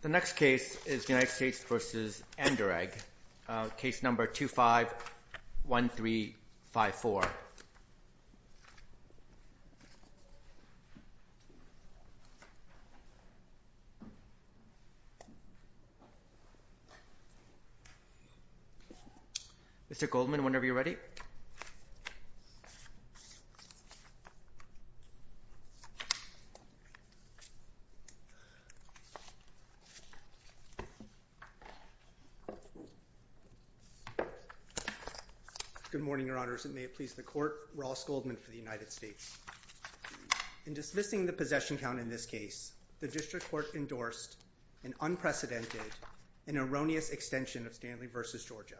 The next case is United States v. Anderegg, case number 251354. Mr. Goldman, whenever you're ready. Good morning, Your Honors, and may it please the Court, Ross Goldman for the United States. In dismissing the possession count in this case, the District Court endorsed an unprecedented and erroneous extension of Stanley v. Georgia.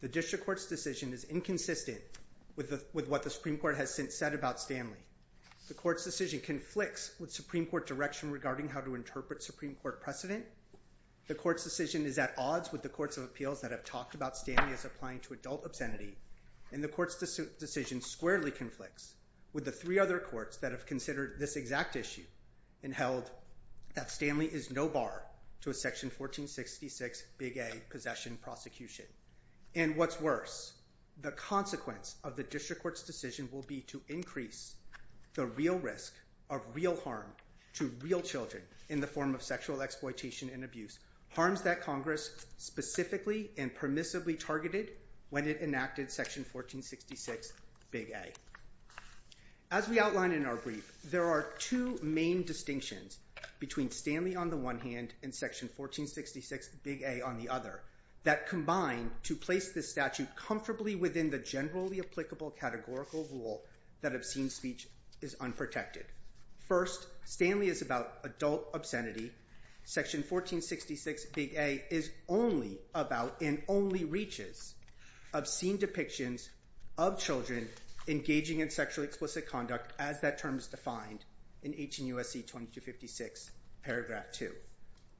The District Court's decision is inconsistent with what the Supreme Court has since said about Stanley. The Court's decision conflicts with Supreme Court direction regarding how to interpret Supreme Court precedent. The Court's decision is at odds with the courts of appeals that have talked about Stanley as applying to adult obscenity. And the Court's decision squarely conflicts with the three other courts that have considered this exact issue and held that Stanley is no bar to a Section 1466, Big A, possession prosecution. And what's worse, the consequence of the District Court's decision will be to increase the real risk of real harm to real children in the form of sexual exploitation and abuse, harms that Congress specifically and permissibly targeted when it enacted Section 1466, Big A. As we outlined in our brief, there are two main distinctions between Stanley on the one hand and Section 1466, Big A, on the other that combine to place this statute comfortably within the generally applicable categorical rule that obscene speech is unprotected. First, Stanley is about adult obscenity. Section 1466, Big A is only about and only reaches obscene depictions of children engaging in sexually explicit conduct as that term is defined in HNUSC 2256, Paragraph 2.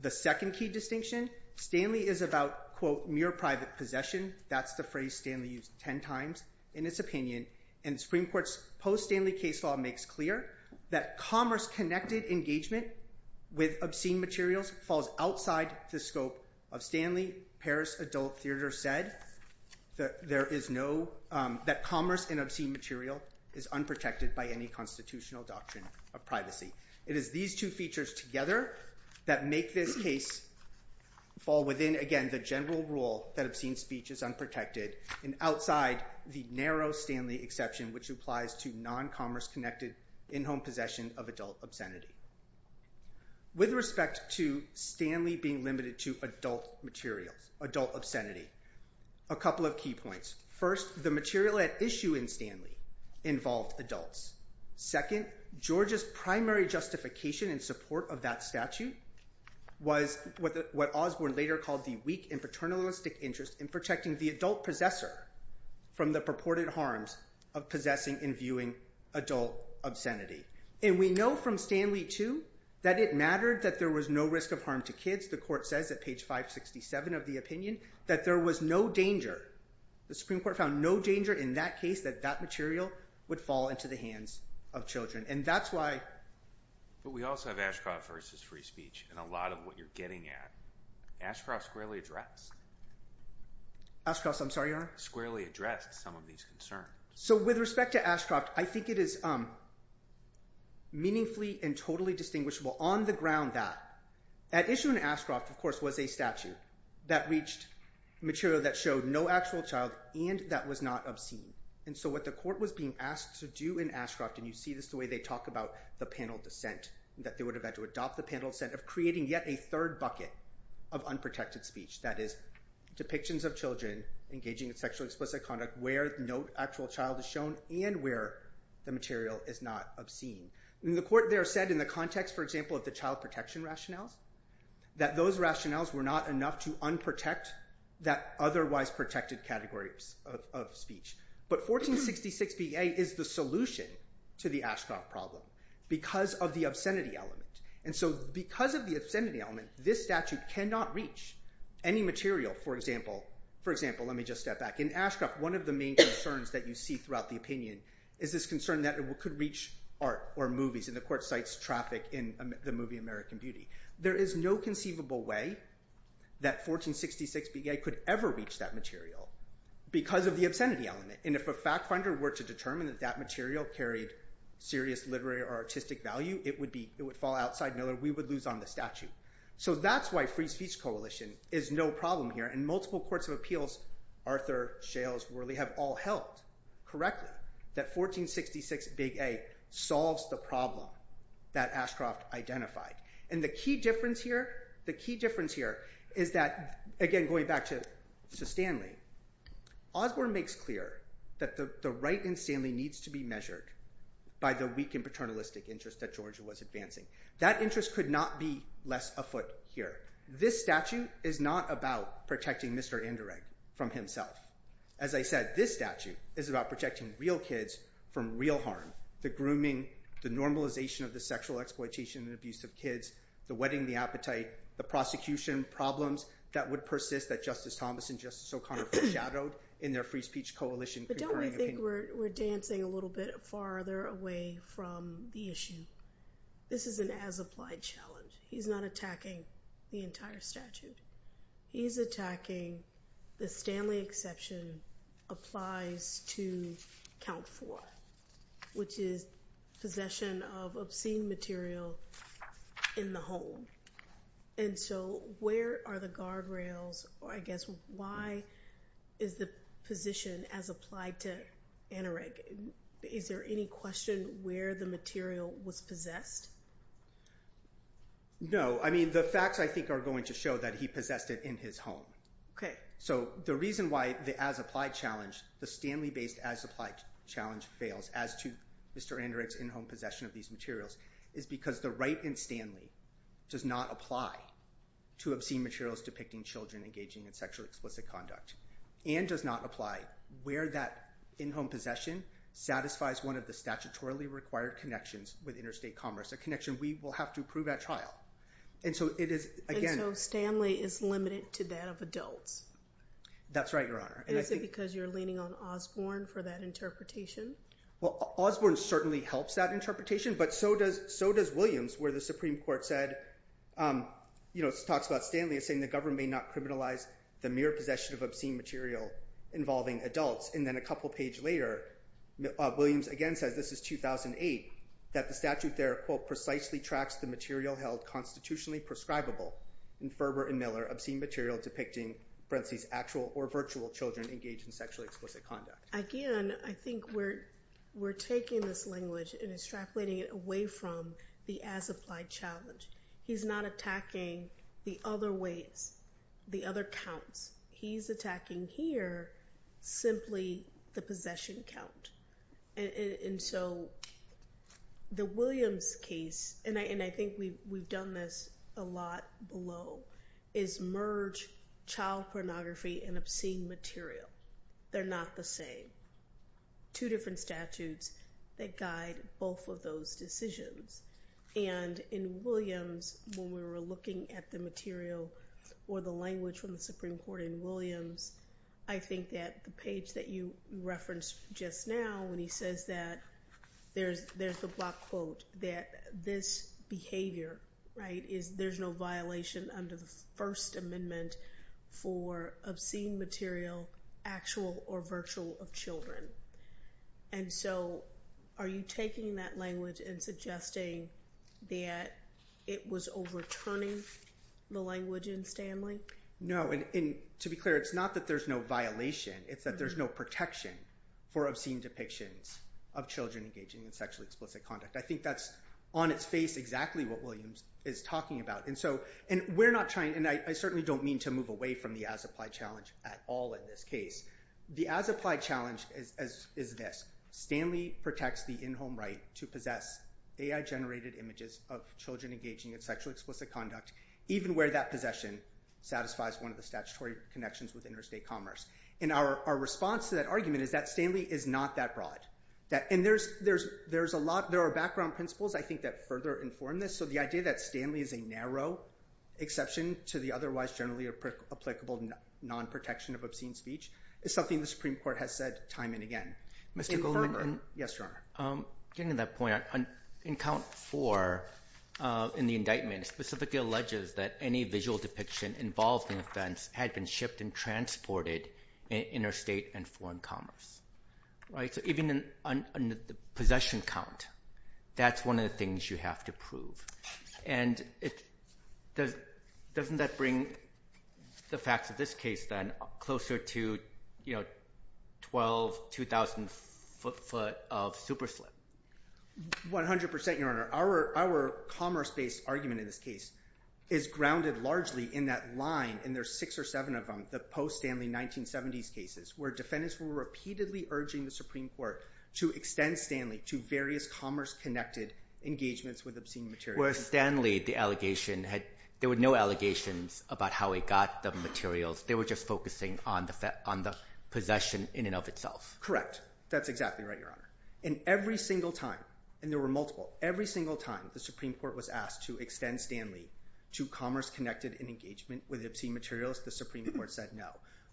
The second key distinction, Stanley is about, quote, mere private possession. That's the phrase Stanley used ten times in its opinion. And the Supreme Court's post-Stanley case law makes clear that commerce-connected engagement with obscene materials falls outside the scope of Stanley. Paris Adult Theater said that commerce in obscene material is unprotected by any constitutional doctrine of privacy. It is these two features together that make this case fall within, again, the general rule that obscene speech is unprotected and outside the narrow Stanley exception which applies to non-commerce-connected in-home possession of adult obscenity. With respect to Stanley being limited to adult materials, adult obscenity, a couple of key points. First, the material at issue in Stanley involved adults. Second, George's primary justification in support of that statute was what Osborne later called the weak and paternalistic interest in protecting the adult possessor from the purported harms of possessing and viewing adult obscenity. And we know from Stanley too that it mattered that there was no risk of harm to kids. The court says at page 567 of the opinion that there was no danger. The Supreme Court found no danger in that case that that material would fall into the hands of children. And that's why… But we also have Ashcroft versus free speech in a lot of what you're getting at. Ashcroft's squarely addressed. Ashcroft's, I'm sorry, Your Honor? Squarely addressed some of these concerns. So with respect to Ashcroft, I think it is meaningfully and totally distinguishable on the ground that at issue in Ashcroft, of course, was a statute that reached material that showed no actual child and that was not obscene. And so what the court was being asked to do in Ashcroft, and you see this the way they talk about the panel dissent, that they would have had to adopt the panel dissent of creating yet a third bucket of unprotected speech, that is, depictions of children engaging in sexually explicit conduct where no actual child is shown and where the material is not obscene. And the court there said in the context, for example, of the child protection rationales, that those rationales were not enough to unprotect that otherwise protected category of speech. But 1466 BA is the solution to the Ashcroft problem because of the obscenity element. And so because of the obscenity element, this statute cannot reach any material. For example, let me just step back. In Ashcroft, one of the main concerns that you see throughout the opinion is this concern that it could reach art or movies, and the court cites traffic in the movie American Beauty. There is no conceivable way that 1466 BA could ever reach that material because of the obscenity element. And if a fact finder were to determine that that material carried serious literary or artistic value, it would fall outside Miller. We would lose on the statute. So that's why free speech coalition is no problem here, and multiple courts of appeals, Arthur, Shales, Worley, have all helped correctly that 1466 BA solves the problem that Ashcroft identified. And the key difference here is that, again, going back to Stanley, Osborne makes clear that the right in Stanley needs to be measured by the weak and paternalistic interest that Georgia was advancing. That interest could not be less afoot here. This statute is not about protecting Mr. Anderegg from himself. As I said, this statute is about protecting real kids from real harm, the grooming, the normalization of the sexual exploitation and abuse of kids, the wedding, the appetite, the prosecution problems that would persist that Justice Thomas and Justice O'Connor foreshadowed in their free speech coalition. But don't we think we're dancing a little bit farther away from the issue? This is an as-applied challenge. He's not attacking the entire statute. He's attacking the Stanley exception applies to count four, which is possession of obscene material in the home. And so where are the guardrails, or I guess why is the position as applied to Anderegg? Is there any question where the material was possessed? No. I mean, the facts, I think, are going to show that he possessed it in his home. So the reason why the as-applied challenge, the Stanley-based as-applied challenge fails as to Mr. Anderegg's in-home possession of these materials is because the right in Stanley does not apply to obscene materials depicting children engaging in sexually explicit conduct and does not apply where that in-home possession satisfies one of the statutorily required connections with interstate commerce, a connection we will have to prove at trial. And so Stanley is limited to that of adults. That's right, Your Honor. Is it because you're leaning on Osborne for that interpretation? Well, Osborne certainly helps that interpretation, but so does Williams, where the Supreme Court said, you know, talks about Stanley as saying the government may not criminalize the mere possession of obscene material involving adults. And then a couple pages later, Williams again says, this is 2008, that the statute there, quote, precisely tracks the material held constitutionally prescribable in Ferber and Miller obscene material depicting, parenthesis, actual or virtual children engaged in sexually explicit conduct. Again, I think we're taking this language and extrapolating it away from the as-applied challenge. He's not attacking the other ways, the other counts. He's attacking here simply the possession count. And so the Williams case, and I think we've done this a lot below, is merge child pornography and obscene material. They're not the same. Two different statutes that guide both of those decisions. And in Williams, when we were looking at the material or the language from the Supreme Court in Williams, I think that the page that you referenced just now, when he says that there's the block quote, that this behavior, right, is there's no violation under the First Amendment for obscene material, actual or virtual of children. And so are you taking that language and suggesting that it was overturning the language in Stanley? No, and to be clear, it's not that there's no violation. It's that there's no protection for obscene depictions of children engaging in sexually explicit conduct. I think that's on its face exactly what Williams is talking about. And we're not trying, and I certainly don't mean to move away from the as-applied challenge at all in this case. The as-applied challenge is this. Stanley protects the in-home right to possess AI-generated images of children engaging in sexually explicit conduct, even where that possession satisfies one of the statutory connections with interstate commerce. And our response to that argument is that Stanley is not that broad. And there are background principles, I think, that further inform this. So the idea that Stanley is a narrow exception to the otherwise generally applicable non-protection of obscene speech is something the Supreme Court has said time and again. Yes, Your Honor. Getting to that point, in count four in the indictment, it specifically alleges that any visual depiction involved in an offense had been shipped and transported in interstate and foreign commerce. So even in the possession count, that's one of the things you have to prove. And doesn't that bring the facts of this case, then, closer to, you know, 12, 2,000 foot of super slip? 100%, Your Honor. Our commerce-based argument in this case is grounded largely in that line, and there are six or seven of them, the post-Stanley 1970s cases, where defendants were repeatedly urging the Supreme Court to extend Stanley to various commerce-connected engagements with obscene materials. Where Stanley, the allegation, there were no allegations about how he got the materials. They were just focusing on the possession in and of itself. Correct. That's exactly right, Your Honor. And every single time, and there were multiple, every single time the Supreme Court was asked to extend Stanley to commerce-connected engagement with obscene materials, the Supreme Court said no.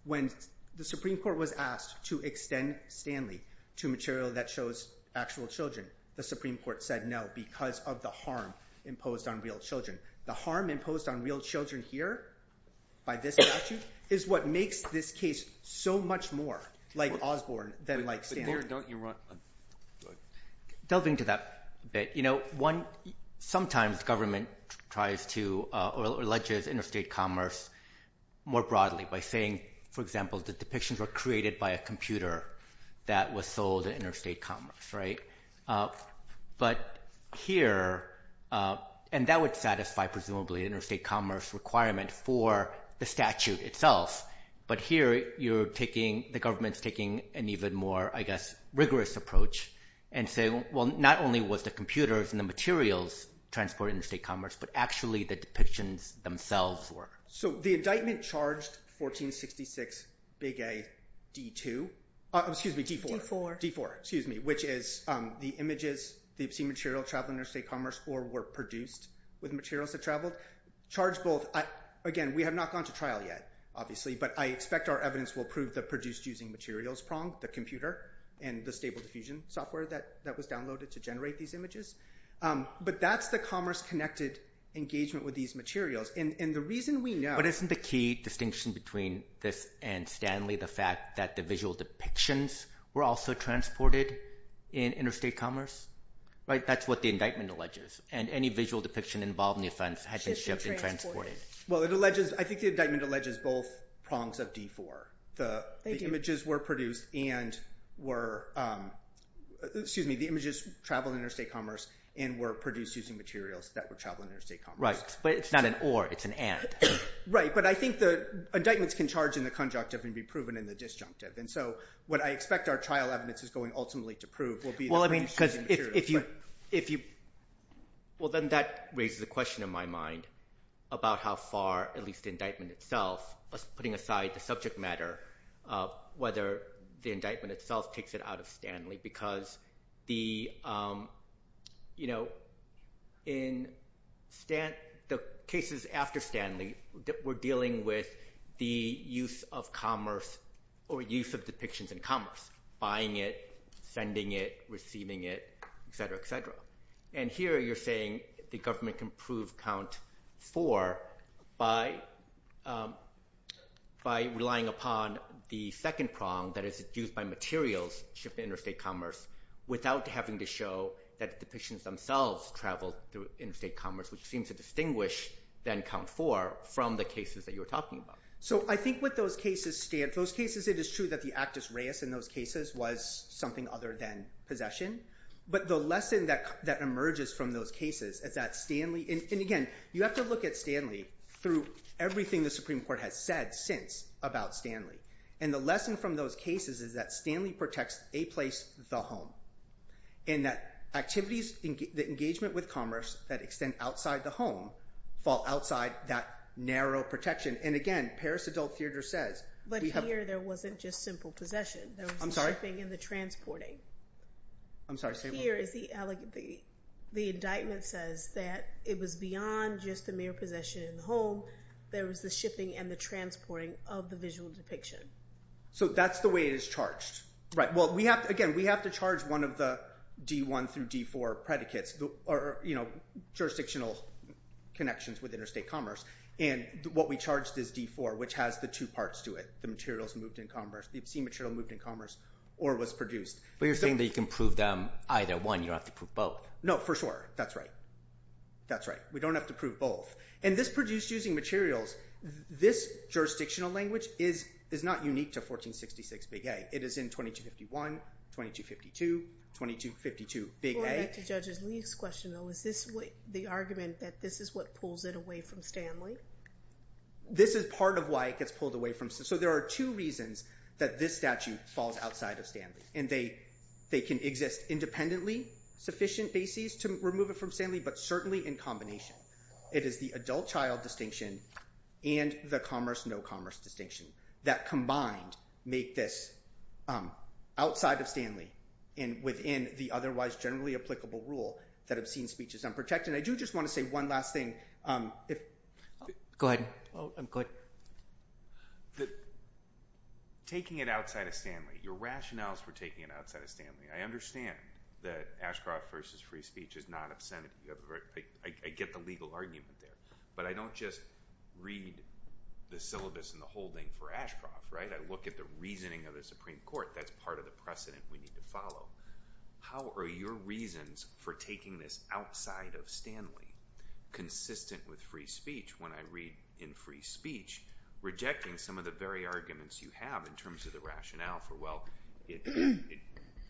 When the Supreme Court was asked to extend Stanley to material that shows actual children, the Supreme Court said no because of the harm imposed on real children. The harm imposed on real children here by this statute is what makes this case so much more like Osborne than like Stanley. Delving to that a bit, you know, sometimes government tries to or alleges interstate commerce more broadly by saying, for example, the depictions were created by a computer that was sold in interstate commerce, right? But here, and that would satisfy presumably interstate commerce requirement for the statute itself, but here you're taking, the government's taking an even more, I guess, rigorous approach and saying, well, not only was the computers and the materials transported in interstate commerce, but actually the depictions themselves were. So the indictment charged 1466, Big A, D2, excuse me, D4. D4. D4, excuse me, which is the images, the obscene material traveling interstate commerce or were produced with materials that traveled, charged both. Again, we have not gone to trial yet, obviously, but I expect our evidence will prove the produced using materials prong, the computer and the stable diffusion software that was downloaded to generate these images. But that's the commerce connected engagement with these materials. And the reason we know. But isn't the key distinction between this and Stanley the fact that the visual depictions were also transported in interstate commerce? Right? That's what the indictment alleges. And any visual depiction involved in the offense had been shipped and transported. Well, it alleges, I think the indictment alleges both prongs of D4. The images were produced and were, excuse me, the images traveled interstate commerce and were produced using materials that were traveling interstate commerce. Right, but it's not an or, it's an and. Right, but I think the indictments can charge in the conjunctive and be proven in the disjunctive. And so what I expect our trial evidence is going ultimately to prove will be the produced using materials. If you, if you, well then that raises a question in my mind about how far, at least the indictment itself, putting aside the subject matter of whether the indictment itself takes it out of Stanley. Because the, you know, in Stan, the cases after Stanley were dealing with the use of commerce or use of depictions in commerce. Buying it, sending it, receiving it, et cetera, et cetera. And here you're saying the government can prove count four by relying upon the second prong that is used by materials shipped to interstate commerce without having to show that the depictions themselves traveled through interstate commerce, which seems to distinguish then count four from the cases that you were talking about. So I think with those cases, those cases it is true that the actus reus in those cases was something other than possession. But the lesson that emerges from those cases is that Stanley, and again, you have to look at Stanley through everything the Supreme Court has said since about Stanley. And the lesson from those cases is that Stanley protects a place, the home. And that activities, the engagement with commerce that extend outside the home fall outside that narrow protection. And again, Paris Adult Theater says we have- But here there wasn't just simple possession. I'm sorry? There was the shipping and the transporting. I'm sorry, say it one more time. Here is the, the indictment says that it was beyond just the mere possession in the home. There was the shipping and the transporting of the visual depiction. So that's the way it is charged. Right. Well, we have to, again, we have to charge one of the D1 through D4 predicates, or, you know, jurisdictional connections with interstate commerce. And what we charged is D4, which has the two parts to it. The materials moved in commerce. The obscene material moved in commerce or was produced. But you're saying that you can prove them either one. You don't have to prove both. No, for sure. That's right. That's right. We don't have to prove both. And this produced using materials, this jurisdictional language is not unique to 1466 Big A. It is in 2251, 2252, 2252 Big A. Let me get back to Judge Lee's question, though. Is this the argument that this is what pulls it away from Stanley? This is part of why it gets pulled away from Stanley. So there are two reasons that this statute falls outside of Stanley. And they can exist independently, sufficient bases to remove it from Stanley, but certainly in combination. It is the adult-child distinction and the commerce-no-commerce distinction that combined make this outside of Stanley and within the otherwise generally applicable rule that obscene speech is unprotected. And I do just want to say one last thing. Go ahead. I'm good. Taking it outside of Stanley, your rationales for taking it outside of Stanley, I understand that Ashcroft v. Free Speech is not obscene. I get the legal argument there. But I don't just read the syllabus and the holding for Ashcroft, right? I look at the reasoning of the Supreme Court. That's part of the precedent we need to follow. How are your reasons for taking this outside of Stanley consistent with Free Speech when I read in Free Speech rejecting some of the very arguments you have in terms of the rationale for, well, it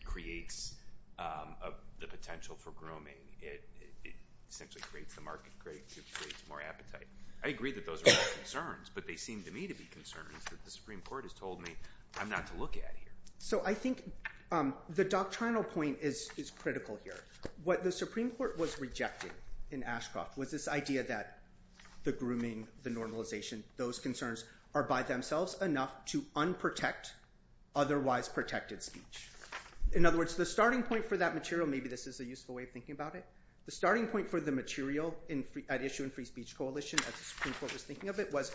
creates the potential for grooming. It essentially creates the market, creates more appetite. I agree that those are all concerns, but they seem to me to be concerns that the Supreme Court has told me I'm not to look at here. So I think the doctrinal point is critical here. What the Supreme Court was rejecting in Ashcroft was this idea that the grooming, the normalization, those concerns are by themselves enough to unprotect otherwise protected speech. In other words, the starting point for that material, maybe this is a useful way of thinking about it, the starting point for the material at issue in Free Speech Coalition as the Supreme Court was thinking of it was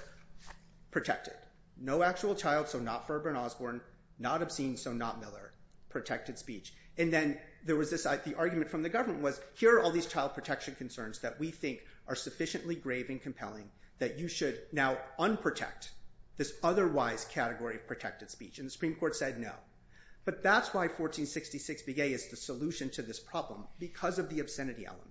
protected. No actual child, so not Ferber and Osborne, not obscene, so not Miller, protected speech. And then there was this argument from the government was here are all these child protection concerns that we think are sufficiently grave and compelling that you should now unprotect this otherwise category of protected speech. And the Supreme Court said no. But that's why 1466 B.A. is the solution to this problem because of the obscenity element.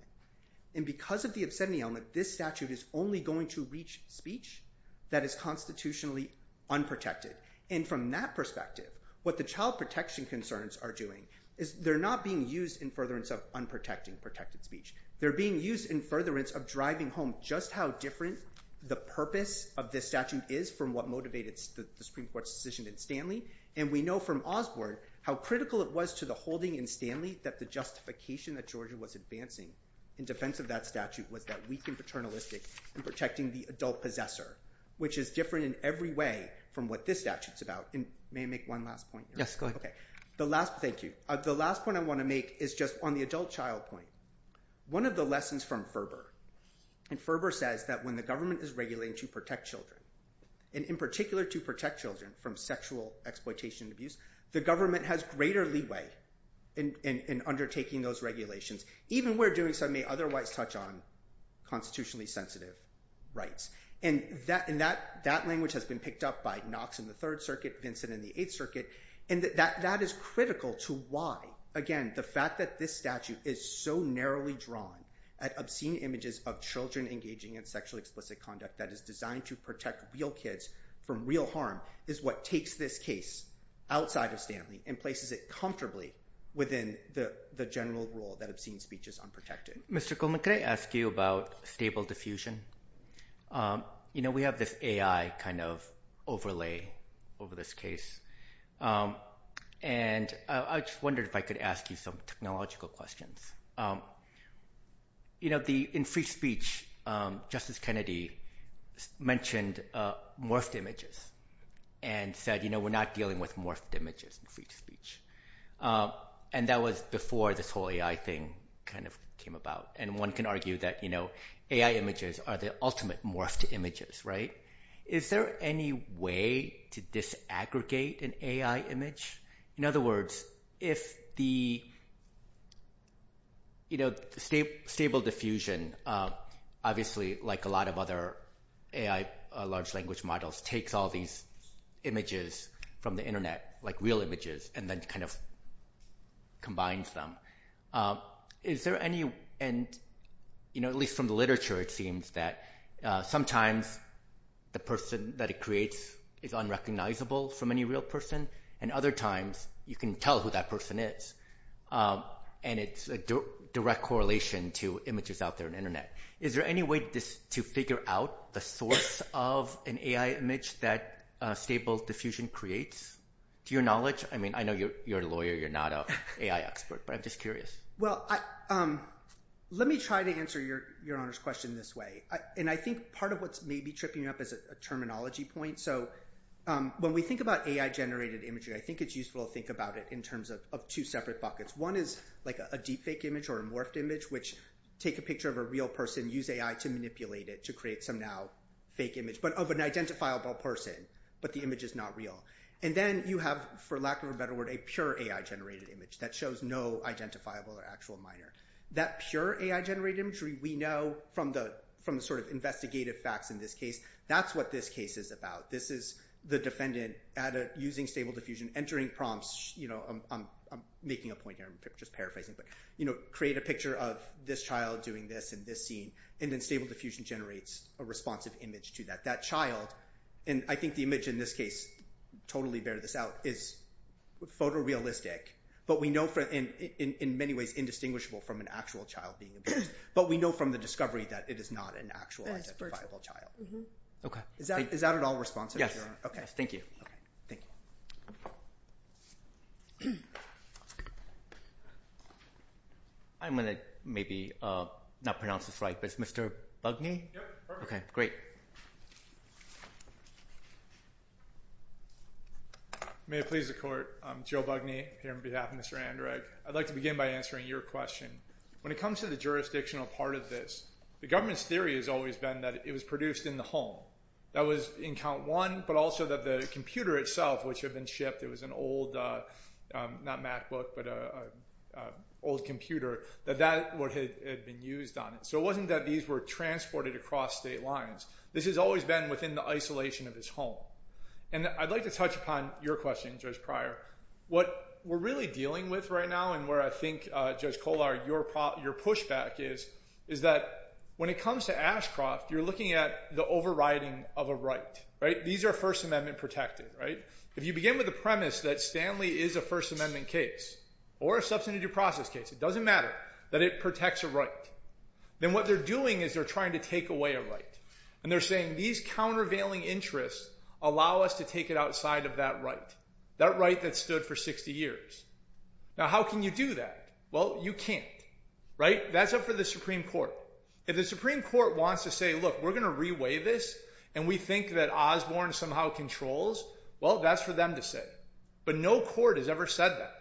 And because of the obscenity element, this statute is only going to reach speech that is constitutionally unprotected. And from that perspective, what the child protection concerns are doing is they're not being used in furtherance of unprotected speech. They're being used in furtherance of driving home just how different the purpose of this statute is from what motivated the Supreme Court's decision in Stanley. And we know from Osborne how critical it was to the holding in Stanley that the justification that Georgia was advancing in defense of that statute was that we can paternalistic in protecting the adult possessor, which is different in every way from what this statute is about. May I make one last point? Yes, go ahead. The last point I want to make is just on the adult-child point. One of the lessons from Ferber, and Ferber says that when the government is regulating to protect children, and in particular to protect children from sexual exploitation and abuse, the government has greater leeway in undertaking those regulations, even where doing so may otherwise touch on constitutionally sensitive rights. And that language has been picked up by Knox in the Third Circuit, Vincent in the Eighth Circuit, and that is critical to why, again, the fact that this statute is so narrowly drawn at obscene images of children engaging in sexually explicit conduct that is designed to protect real kids from real harm is what takes this case outside of Stanley and places it comfortably within the general rule that obscene speech is unprotected. Mr. Coleman, can I ask you about stable diffusion? You know, we have this AI kind of overlay over this case, and I just wondered if I could ask you some technological questions. In free speech, Justice Kennedy mentioned morphed images and said, you know, we're not dealing with morphed images in free speech. And that was before this whole AI thing kind of came about, and one can argue that AI images are the ultimate morphed images, right? Is there any way to disaggregate an AI image? In other words, if the, you know, stable diffusion, obviously like a lot of other AI large language models, takes all these images from the Internet, like real images, and then kind of combines them. Is there any end, you know, at least from the literature, it seems that sometimes the person that it creates is unrecognizable from any real person, and other times you can tell who that person is. And it's a direct correlation to images out there on the Internet. Is there any way to figure out the source of an AI image that stable diffusion creates? To your knowledge, I mean, I know you're a lawyer, you're not an AI expert, but I'm just curious. Well, let me try to answer Your Honor's question this way. And I think part of what's maybe tripping you up is a terminology point. So when we think about AI generated imagery, I think it's useful to think about it in terms of two separate buckets. One is like a deep fake image or a morphed image, which take a picture of a real person, use AI to manipulate it to create some now fake image, but of an identifiable person, but the image is not real. And then you have, for lack of a better word, a pure AI generated image that shows no identifiable or actual minor. That pure AI generated imagery we know from the sort of investigative facts in this case, that's what this case is about. This is the defendant using stable diffusion, entering prompts, I'm making a point here, I'm just paraphrasing, but create a picture of this child doing this in this scene, and then stable diffusion generates a responsive image to that. That child, and I think the image in this case, totally bear this out, is photorealistic, but we know in many ways indistinguishable from an actual child being abused. But we know from the discovery that it is not an actual identifiable child. Okay. Is that at all responsive? Okay, thank you. I'm going to maybe not pronounce this right, but it's Mr. Bugney? Yep. Okay, great. May it please the court. I'm Joe Bugney, here on behalf of Mr. Anderegg. I'd like to begin by answering your question. When it comes to the jurisdictional part of this, the government's theory has always been that it was produced in the home. That was in count one, but also that the computer itself, which had been shipped, it was an old, not MacBook, but an old computer, that that had been used on it. So it wasn't that these were transported across state lines. This has always been within the isolation of his home. And I'd like to touch upon your question, Judge Pryor. What we're really dealing with right now, and where I think, Judge Kollar, your pushback is, is that when it comes to Ashcroft, you're looking at the overriding of a right. These are First Amendment protected. If you begin with the premise that Stanley is a First Amendment case, or a substantive due process case, it doesn't matter, that it protects a right, then what they're doing is they're trying to take away a right. And they're saying these countervailing interests allow us to take it outside of that right, that right that stood for 60 years. Now, how can you do that? Well, you can't, right? That's up for the Supreme Court. If the Supreme Court wants to say, look, we're going to reweigh this, and we think that Osborne somehow controls, well, that's for them to say. But no court has ever said that.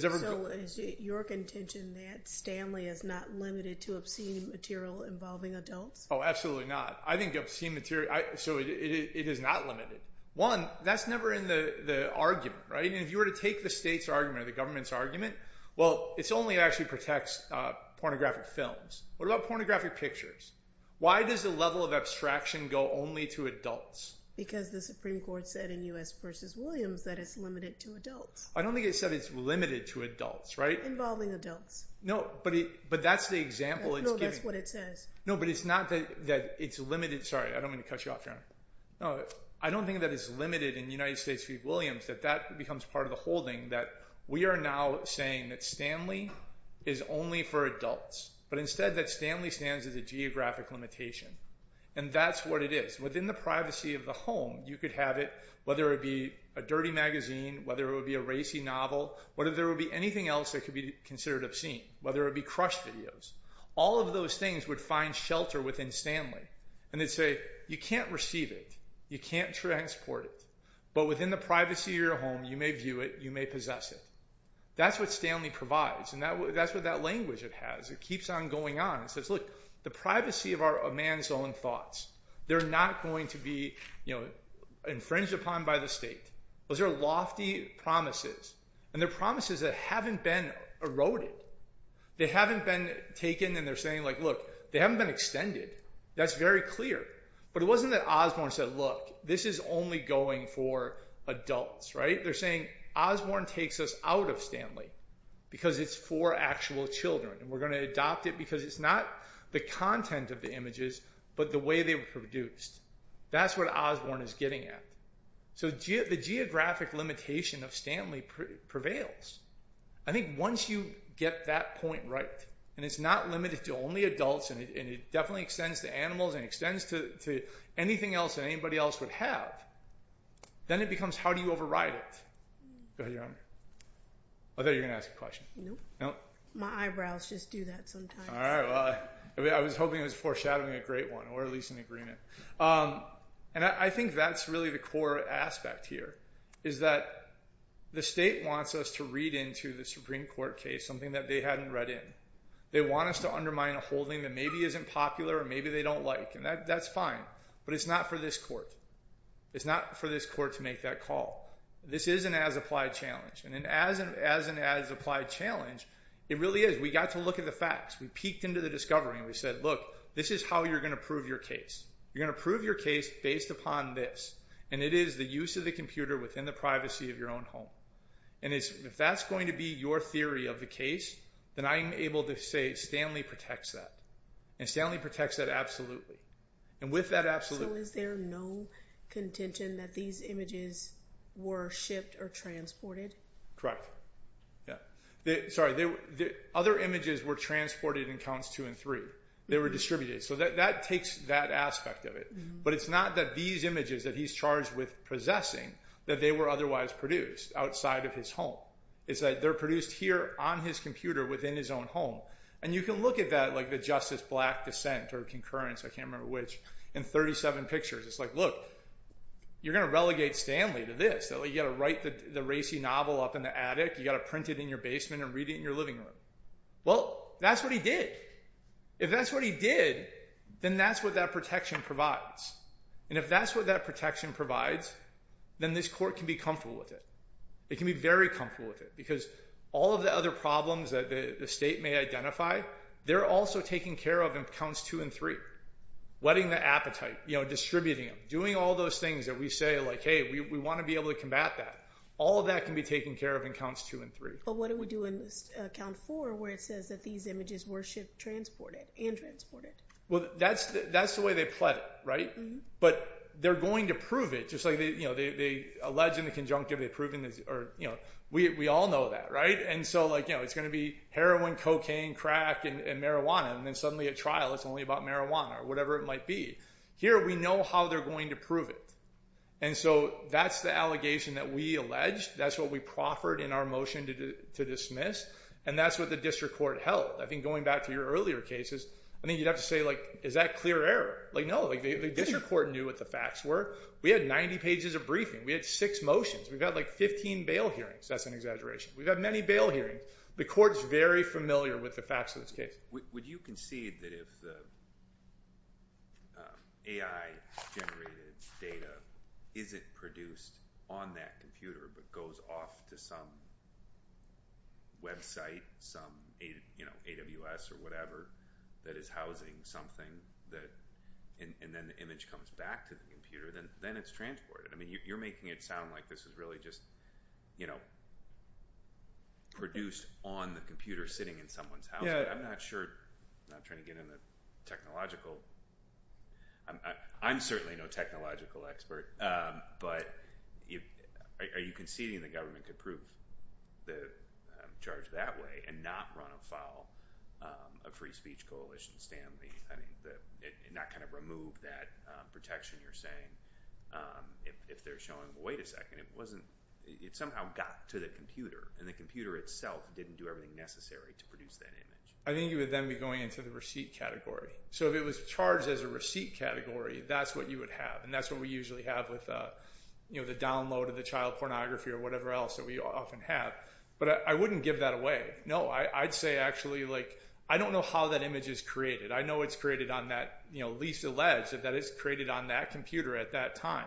So is it your contention that Stanley is not limited to obscene material involving adults? Oh, absolutely not. I think obscene material, so it is not limited. One, that's never in the argument, right? If you were to take the state's argument or the government's argument, well, it only actually protects pornographic films. What about pornographic pictures? Why does the level of abstraction go only to adults? Because the Supreme Court said in U.S. v. Williams that it's limited to adults. I don't think it said it's limited to adults, right? Involving adults. No, but that's the example it's giving. No, that's what it says. No, but it's not that it's limited. Sorry, I don't mean to cut you off, Your Honor. No, I don't think that it's limited in United States v. Williams that that becomes part of the holding that we are now saying that Stanley is only for adults, but instead that Stanley stands as a geographic limitation, and that's what it is. Within the privacy of the home, you could have it, whether it be a dirty magazine, whether it would be a racy novel, whether there would be anything else that could be considered obscene, whether it would be crushed videos. All of those things would find shelter within Stanley, and they'd say, you can't receive it. You can't transport it. But within the privacy of your home, you may view it, you may possess it. That's what Stanley provides, and that's what that language it has. It keeps on going on. It says, look, the privacy of a man's own thoughts, they're not going to be infringed upon by the state. Those are lofty promises, and they're promises that haven't been eroded. They haven't been taken, and they're saying, look, they haven't been extended. That's very clear. But it wasn't that Osborne said, look, this is only going for adults. They're saying, Osborne takes us out of Stanley because it's for actual children, and we're going to adopt it because it's not the content of the images but the way they were produced. That's what Osborne is getting at. So the geographic limitation of Stanley prevails. I think once you get that point right, and it's not limited to only adults, and it definitely extends to animals and extends to anything else that anybody else would have, then it becomes how do you override it. I thought you were going to ask a question. Nope. My eyebrows just do that sometimes. I was hoping it was foreshadowing a great one or at least an agreement. I think that's really the core aspect here is that the state wants us to read into the Supreme Court case something that they hadn't read in. They want us to undermine a holding that maybe isn't popular or maybe they don't like, and that's fine. But it's not for this court. It's not for this court to make that call. This is an as-applied challenge. And as an as-applied challenge, it really is. We got to look at the facts. We peeked into the discovery, and we said, look, this is how you're going to prove your case. You're going to prove your case based upon this, and it is the use of the computer within the privacy of your own home. And if that's going to be your theory of the case, then I'm able to say Stanley protects that. And Stanley protects that absolutely. And with that absolutely. So is there no contention that these images were shipped or transported? Correct. Sorry, other images were transported in counts two and three. They were distributed. So that takes that aspect of it. But it's not that these images that he's charged with possessing that they were otherwise produced outside of his home. It's that they're produced here on his computer within his own home. And you can look at that, like the Justice Black dissent or concurrence, I can't remember which, in 37 pictures. It's like, look, you're going to relegate Stanley to this. You've got to write the racy novel up in the attic. You've got to print it in your basement and read it in your living room. Well, that's what he did. If that's what he did, then that's what that protection provides. And if that's what that protection provides, then this court can be comfortable with it. It can be very comfortable with it, because all of the other problems that the state may identify, they're also taking care of in counts two and three, whetting the appetite, distributing them, doing all those things that we say, like, hey, we want to be able to combat that. All of that can be taken care of in counts two and three. But what do we do in count four, where it says that these images were shipped, transported, and transported? Well, that's the way they pled it, right? But they're going to prove it, just like they allege in the conjunctive they've proven this, or, you know, we all know that, right? And so, like, you know, it's going to be heroin, cocaine, crack, and marijuana, and then suddenly at trial it's only about marijuana or whatever it might be. Here we know how they're going to prove it. And so that's the allegation that we alleged. That's what we proffered in our motion to dismiss, and that's what the district court held. I think going back to your earlier cases, I think you'd have to say, like, is that clear error? Like, no, the district court knew what the facts were. We had 90 pages of briefing. We had six motions. We've had, like, 15 bail hearings. That's an exaggeration. We've had many bail hearings. The court's very familiar with the facts of this case. Would you concede that if the AI-generated data isn't produced on that computer but goes off to some website, some, you know, AWS or whatever, that is housing something, and then the image comes back to the computer, then it's transported? I mean, you're making it sound like this is really just, you know, produced on the computer sitting in someone's house. Yeah. But I'm not sure. I'm not trying to get into technological. I'm certainly no technological expert, but are you conceding the government could prove the charge that way and not run afoul of free speech coalition standing? Not kind of remove that protection you're saying if they're showing, well, wait a second, it somehow got to the computer, and the computer itself didn't do everything necessary to produce that image. I think you would then be going into the receipt category. So if it was charged as a receipt category, that's what you would have, and that's what we usually have with, you know, the download of the child pornography or whatever else that we often have. But I wouldn't give that away. No, I'd say actually, like, I don't know how that image is created. I know it's created on that, you know, least alleged that it's created on that computer at that time.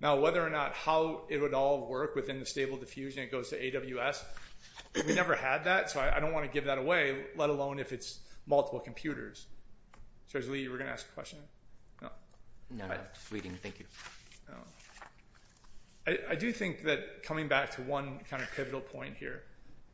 Now, whether or not how it would all work within the stable diffusion, it goes to AWS. We never had that, so I don't want to give that away, let alone if it's multiple computers. So, as Lee, you were going to ask a question? No. No, no, just reading. I do think that coming back to one kind of pivotal point here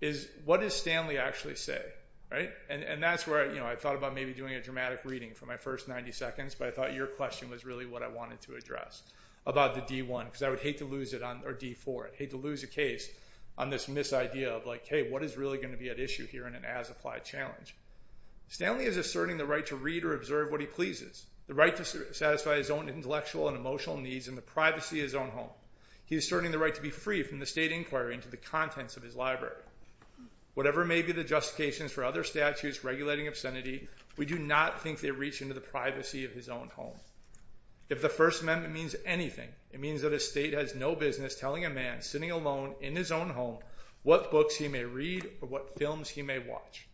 is, what does Stanley actually say, right? And that's where, you know, I thought about maybe doing a dramatic reading for my first 90 seconds, but I thought your question was really what I wanted to address, about the D1, because I would hate to lose it, or D4, I'd hate to lose a case on this mis-idea of, like, hey, what is really going to be at issue here in an as-applied challenge? Stanley is asserting the right to read or observe what he pleases, the right to satisfy his own intellectual and emotional needs, and the privacy of his own home. He is asserting the right to be free from the state inquiry and to the contents of his library. Whatever may be the justifications for other statutes regulating obscenity, we do not think they reach into the privacy of his own home. If the First Amendment means anything, it means that a state has no business telling a man, sitting alone in his own home, what books he may read or what films he may watch.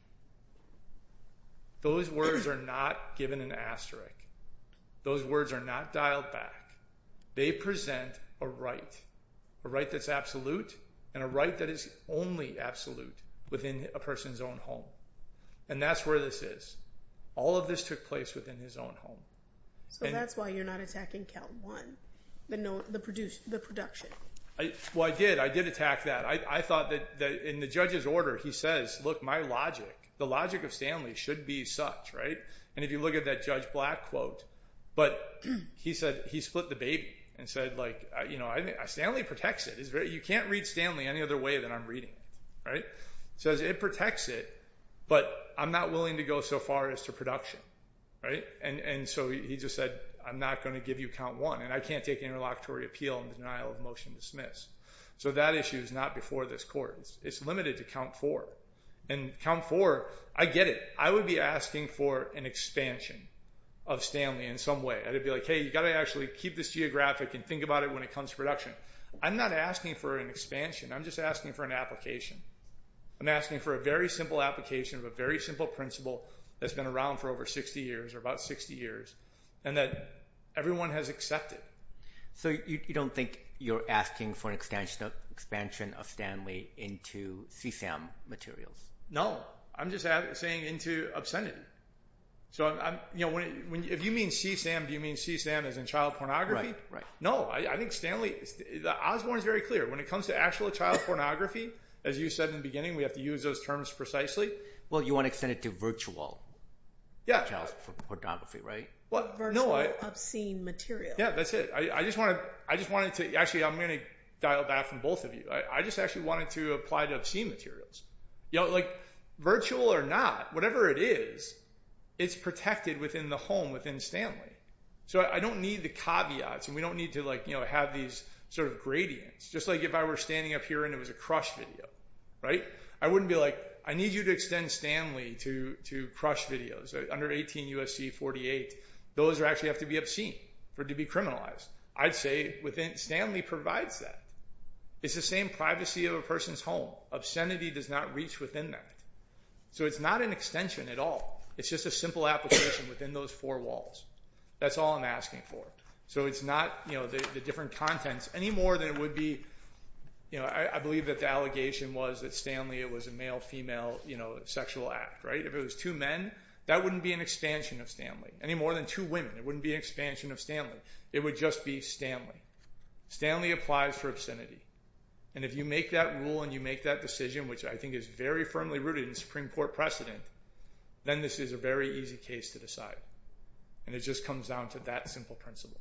Those words are not given an asterisk. Those words are not dialed back. They present a right, a right that's absolute and a right that is only absolute within a person's own home. And that's where this is. All of this took place within his own home. So that's why you're not attacking Cal One, the production. Well, I did. I did attack that. I thought that in the judge's order, he says, look, my logic, the logic of Stanley should be such, right? And if you look at that Judge Black quote, but he said he split the baby and said, like, you know, Stanley protects it. You can't read Stanley any other way than I'm reading it, right? He says it protects it, but I'm not willing to go so far as to production, right? And so he just said, I'm not going to give you count one, and I can't take interlocutory appeal in the denial of motion to dismiss. So that issue is not before this court. It's limited to count four. And count four, I get it. I would be asking for an expansion of Stanley in some way. I'd be like, hey, you've got to actually keep this geographic and think about it when it comes to production. I'm not asking for an expansion. I'm just asking for an application. I'm asking for a very simple application of a very simple principle that's been around for over 60 years or about 60 years and that everyone has accepted. So you don't think you're asking for an expansion of Stanley into CSAM materials? No. I'm just saying into obscenity. So if you mean CSAM, do you mean CSAM as in child pornography? No, I think Stanley, Osborne is very clear. When it comes to actual child pornography, as you said in the beginning, we have to use those terms precisely. Well, you want to extend it to virtual child pornography, right? Virtual obscene material. Yeah, that's it. I just wanted to, actually, I'm going to dial that from both of you. I just actually wanted to apply to obscene materials. Like virtual or not, whatever it is, it's protected within the home within Stanley. So I don't need the caveats. We don't need to have these sort of gradients. Just like if I were standing up here and it was a Crush video, right? I wouldn't be like, I need you to extend Stanley to Crush videos. Under 18 U.S.C. 48, those actually have to be obscene to be criminalized. I'd say Stanley provides that. It's the same privacy of a person's home. Obscenity does not reach within that. So it's not an extension at all. It's just a simple application within those four walls. That's all I'm asking for. So it's not the different contents, any more than it would be. I believe that the allegation was that Stanley was a male-female sexual act, right? If it was two men, that wouldn't be an expansion of Stanley, any more than two women. It wouldn't be an expansion of Stanley. It would just be Stanley. Stanley applies for obscenity. And if you make that rule and you make that decision, which I think is very firmly rooted in the Supreme Court precedent, then this is a very easy case to decide. And it just comes down to that simple principle.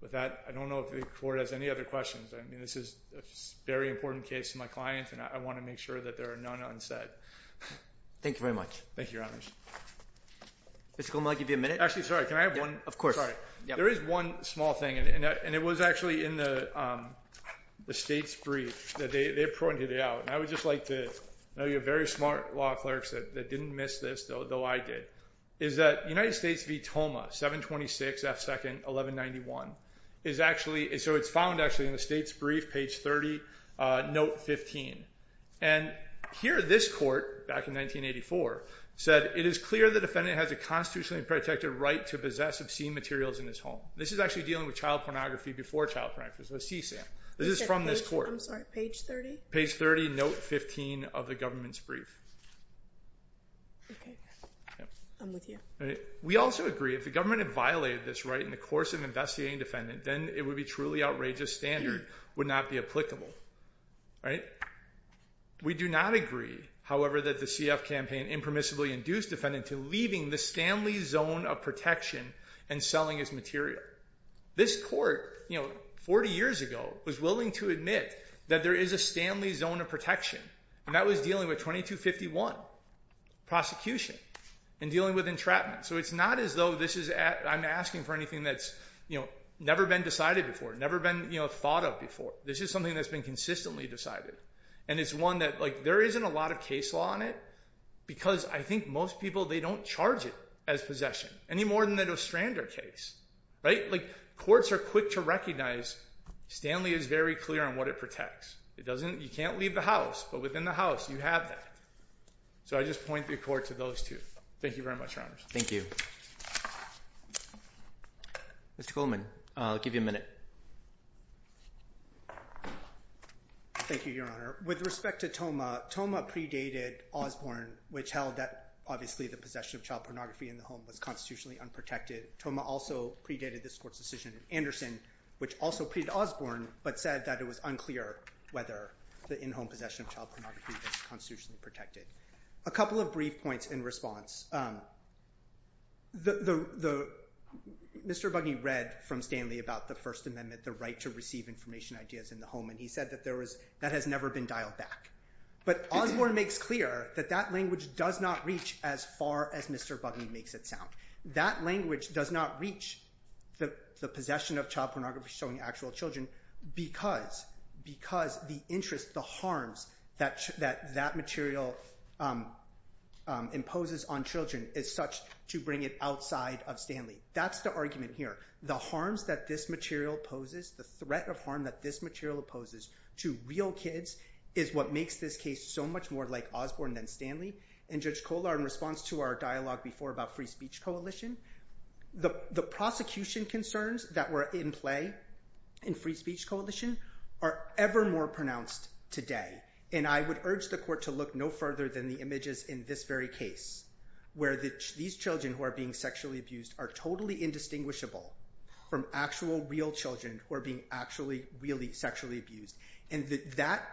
With that, I don't know if the Court has any other questions. I mean, this is a very important case to my client, and I want to make sure that there are none unsaid. Thank you very much. Thank you, Your Honors. Mr. Goldman, I'll give you a minute. Actually, sorry, can I have one? Of course. Sorry. There is one small thing, and it was actually in the State's brief. They pointed it out, and I would just like to know you're very smart law clerks that didn't miss this, though I did, is that United States v. Toma, 726 F. 2nd, 1191. So it's found, actually, in the State's brief, page 30, note 15. And here this Court, back in 1984, said, It is clear the defendant has a constitutionally protected right to possess obscene materials in his home. This is actually dealing with child pornography before child pornography, so CSAM. This is from this Court. I'm sorry, page 30? Page 30, note 15 of the government's brief. Okay. I'm with you. We also agree if the government had violated this right in the course of investigating the defendant, then it would be truly outrageous standard would not be applicable. All right? We do not agree, however, that the CF campaign impermissibly induced defendant to leaving the Stanley zone of protection and selling his material. This Court, 40 years ago, was willing to admit that there is a Stanley zone of protection, and that was dealing with 2251, prosecution, and dealing with entrapment. So it's not as though I'm asking for anything that's never been decided before, never been thought of before. This is something that's been consistently decided. And it's one that there isn't a lot of case law on it because I think most people, they don't charge it as possession, any more than the Nostrander case. Courts are quick to recognize Stanley is very clear on what it protects. You can't leave the house, but within the house, you have that. So I just point the Court to those two. Thank you very much, Your Honors. Thank you. Mr. Coleman, I'll give you a minute. Thank you, Your Honor. With respect to Thoma, Thoma predated Osborne, which held that, obviously, the possession of child pornography in the home was constitutionally unprotected. Thoma also predated this Court's decision in Anderson, which also predated Osborne, but said that it was unclear whether the in-home possession of child pornography was constitutionally protected. A couple of brief points in response. Mr. Bugney read from Stanley about the First Amendment, the right to receive information ideas in the home, and he said that that has never been dialed back. But Osborne makes clear that that language does not reach as far as Mr. Bugney makes it sound. That language does not reach the possession of child pornography showing actual children because the interest, the harms that that material imposes on children is such to bring it outside of Stanley. That's the argument here. The harms that this material poses, the threat of harm that this material poses to real kids is what makes this case so much more like Osborne than Stanley. And Judge Kohler, in response to our dialogue before about Free Speech Coalition, the prosecution concerns that were in play in Free Speech Coalition are ever more pronounced today. And I would urge the Court to look no further than the images in this very case, where these children who are being sexually abused are totally indistinguishable from actual real children who are being actually really sexually abused. And that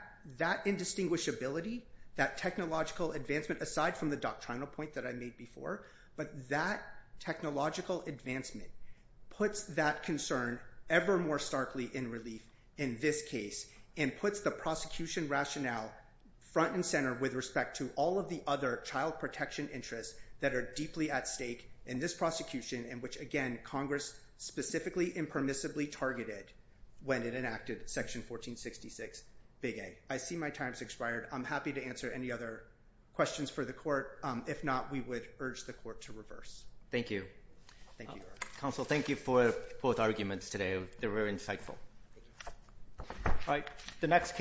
indistinguishability, that technological advancement, aside from the doctrinal point that I made before, but that technological advancement puts that concern ever more starkly in relief in this case and puts the prosecution rationale front and center with respect to all of the other child protection interests that are deeply at stake in this prosecution in which, again, Congress specifically impermissibly targeted when it enacted Section 1466, Big A. I see my time has expired. I'm happy to answer any other questions for the Court. If not, we would urge the Court to reverse. Thank you. Thank you, Your Honor. Counsel, thank you for both arguments today. They were very insightful. All right, the next case.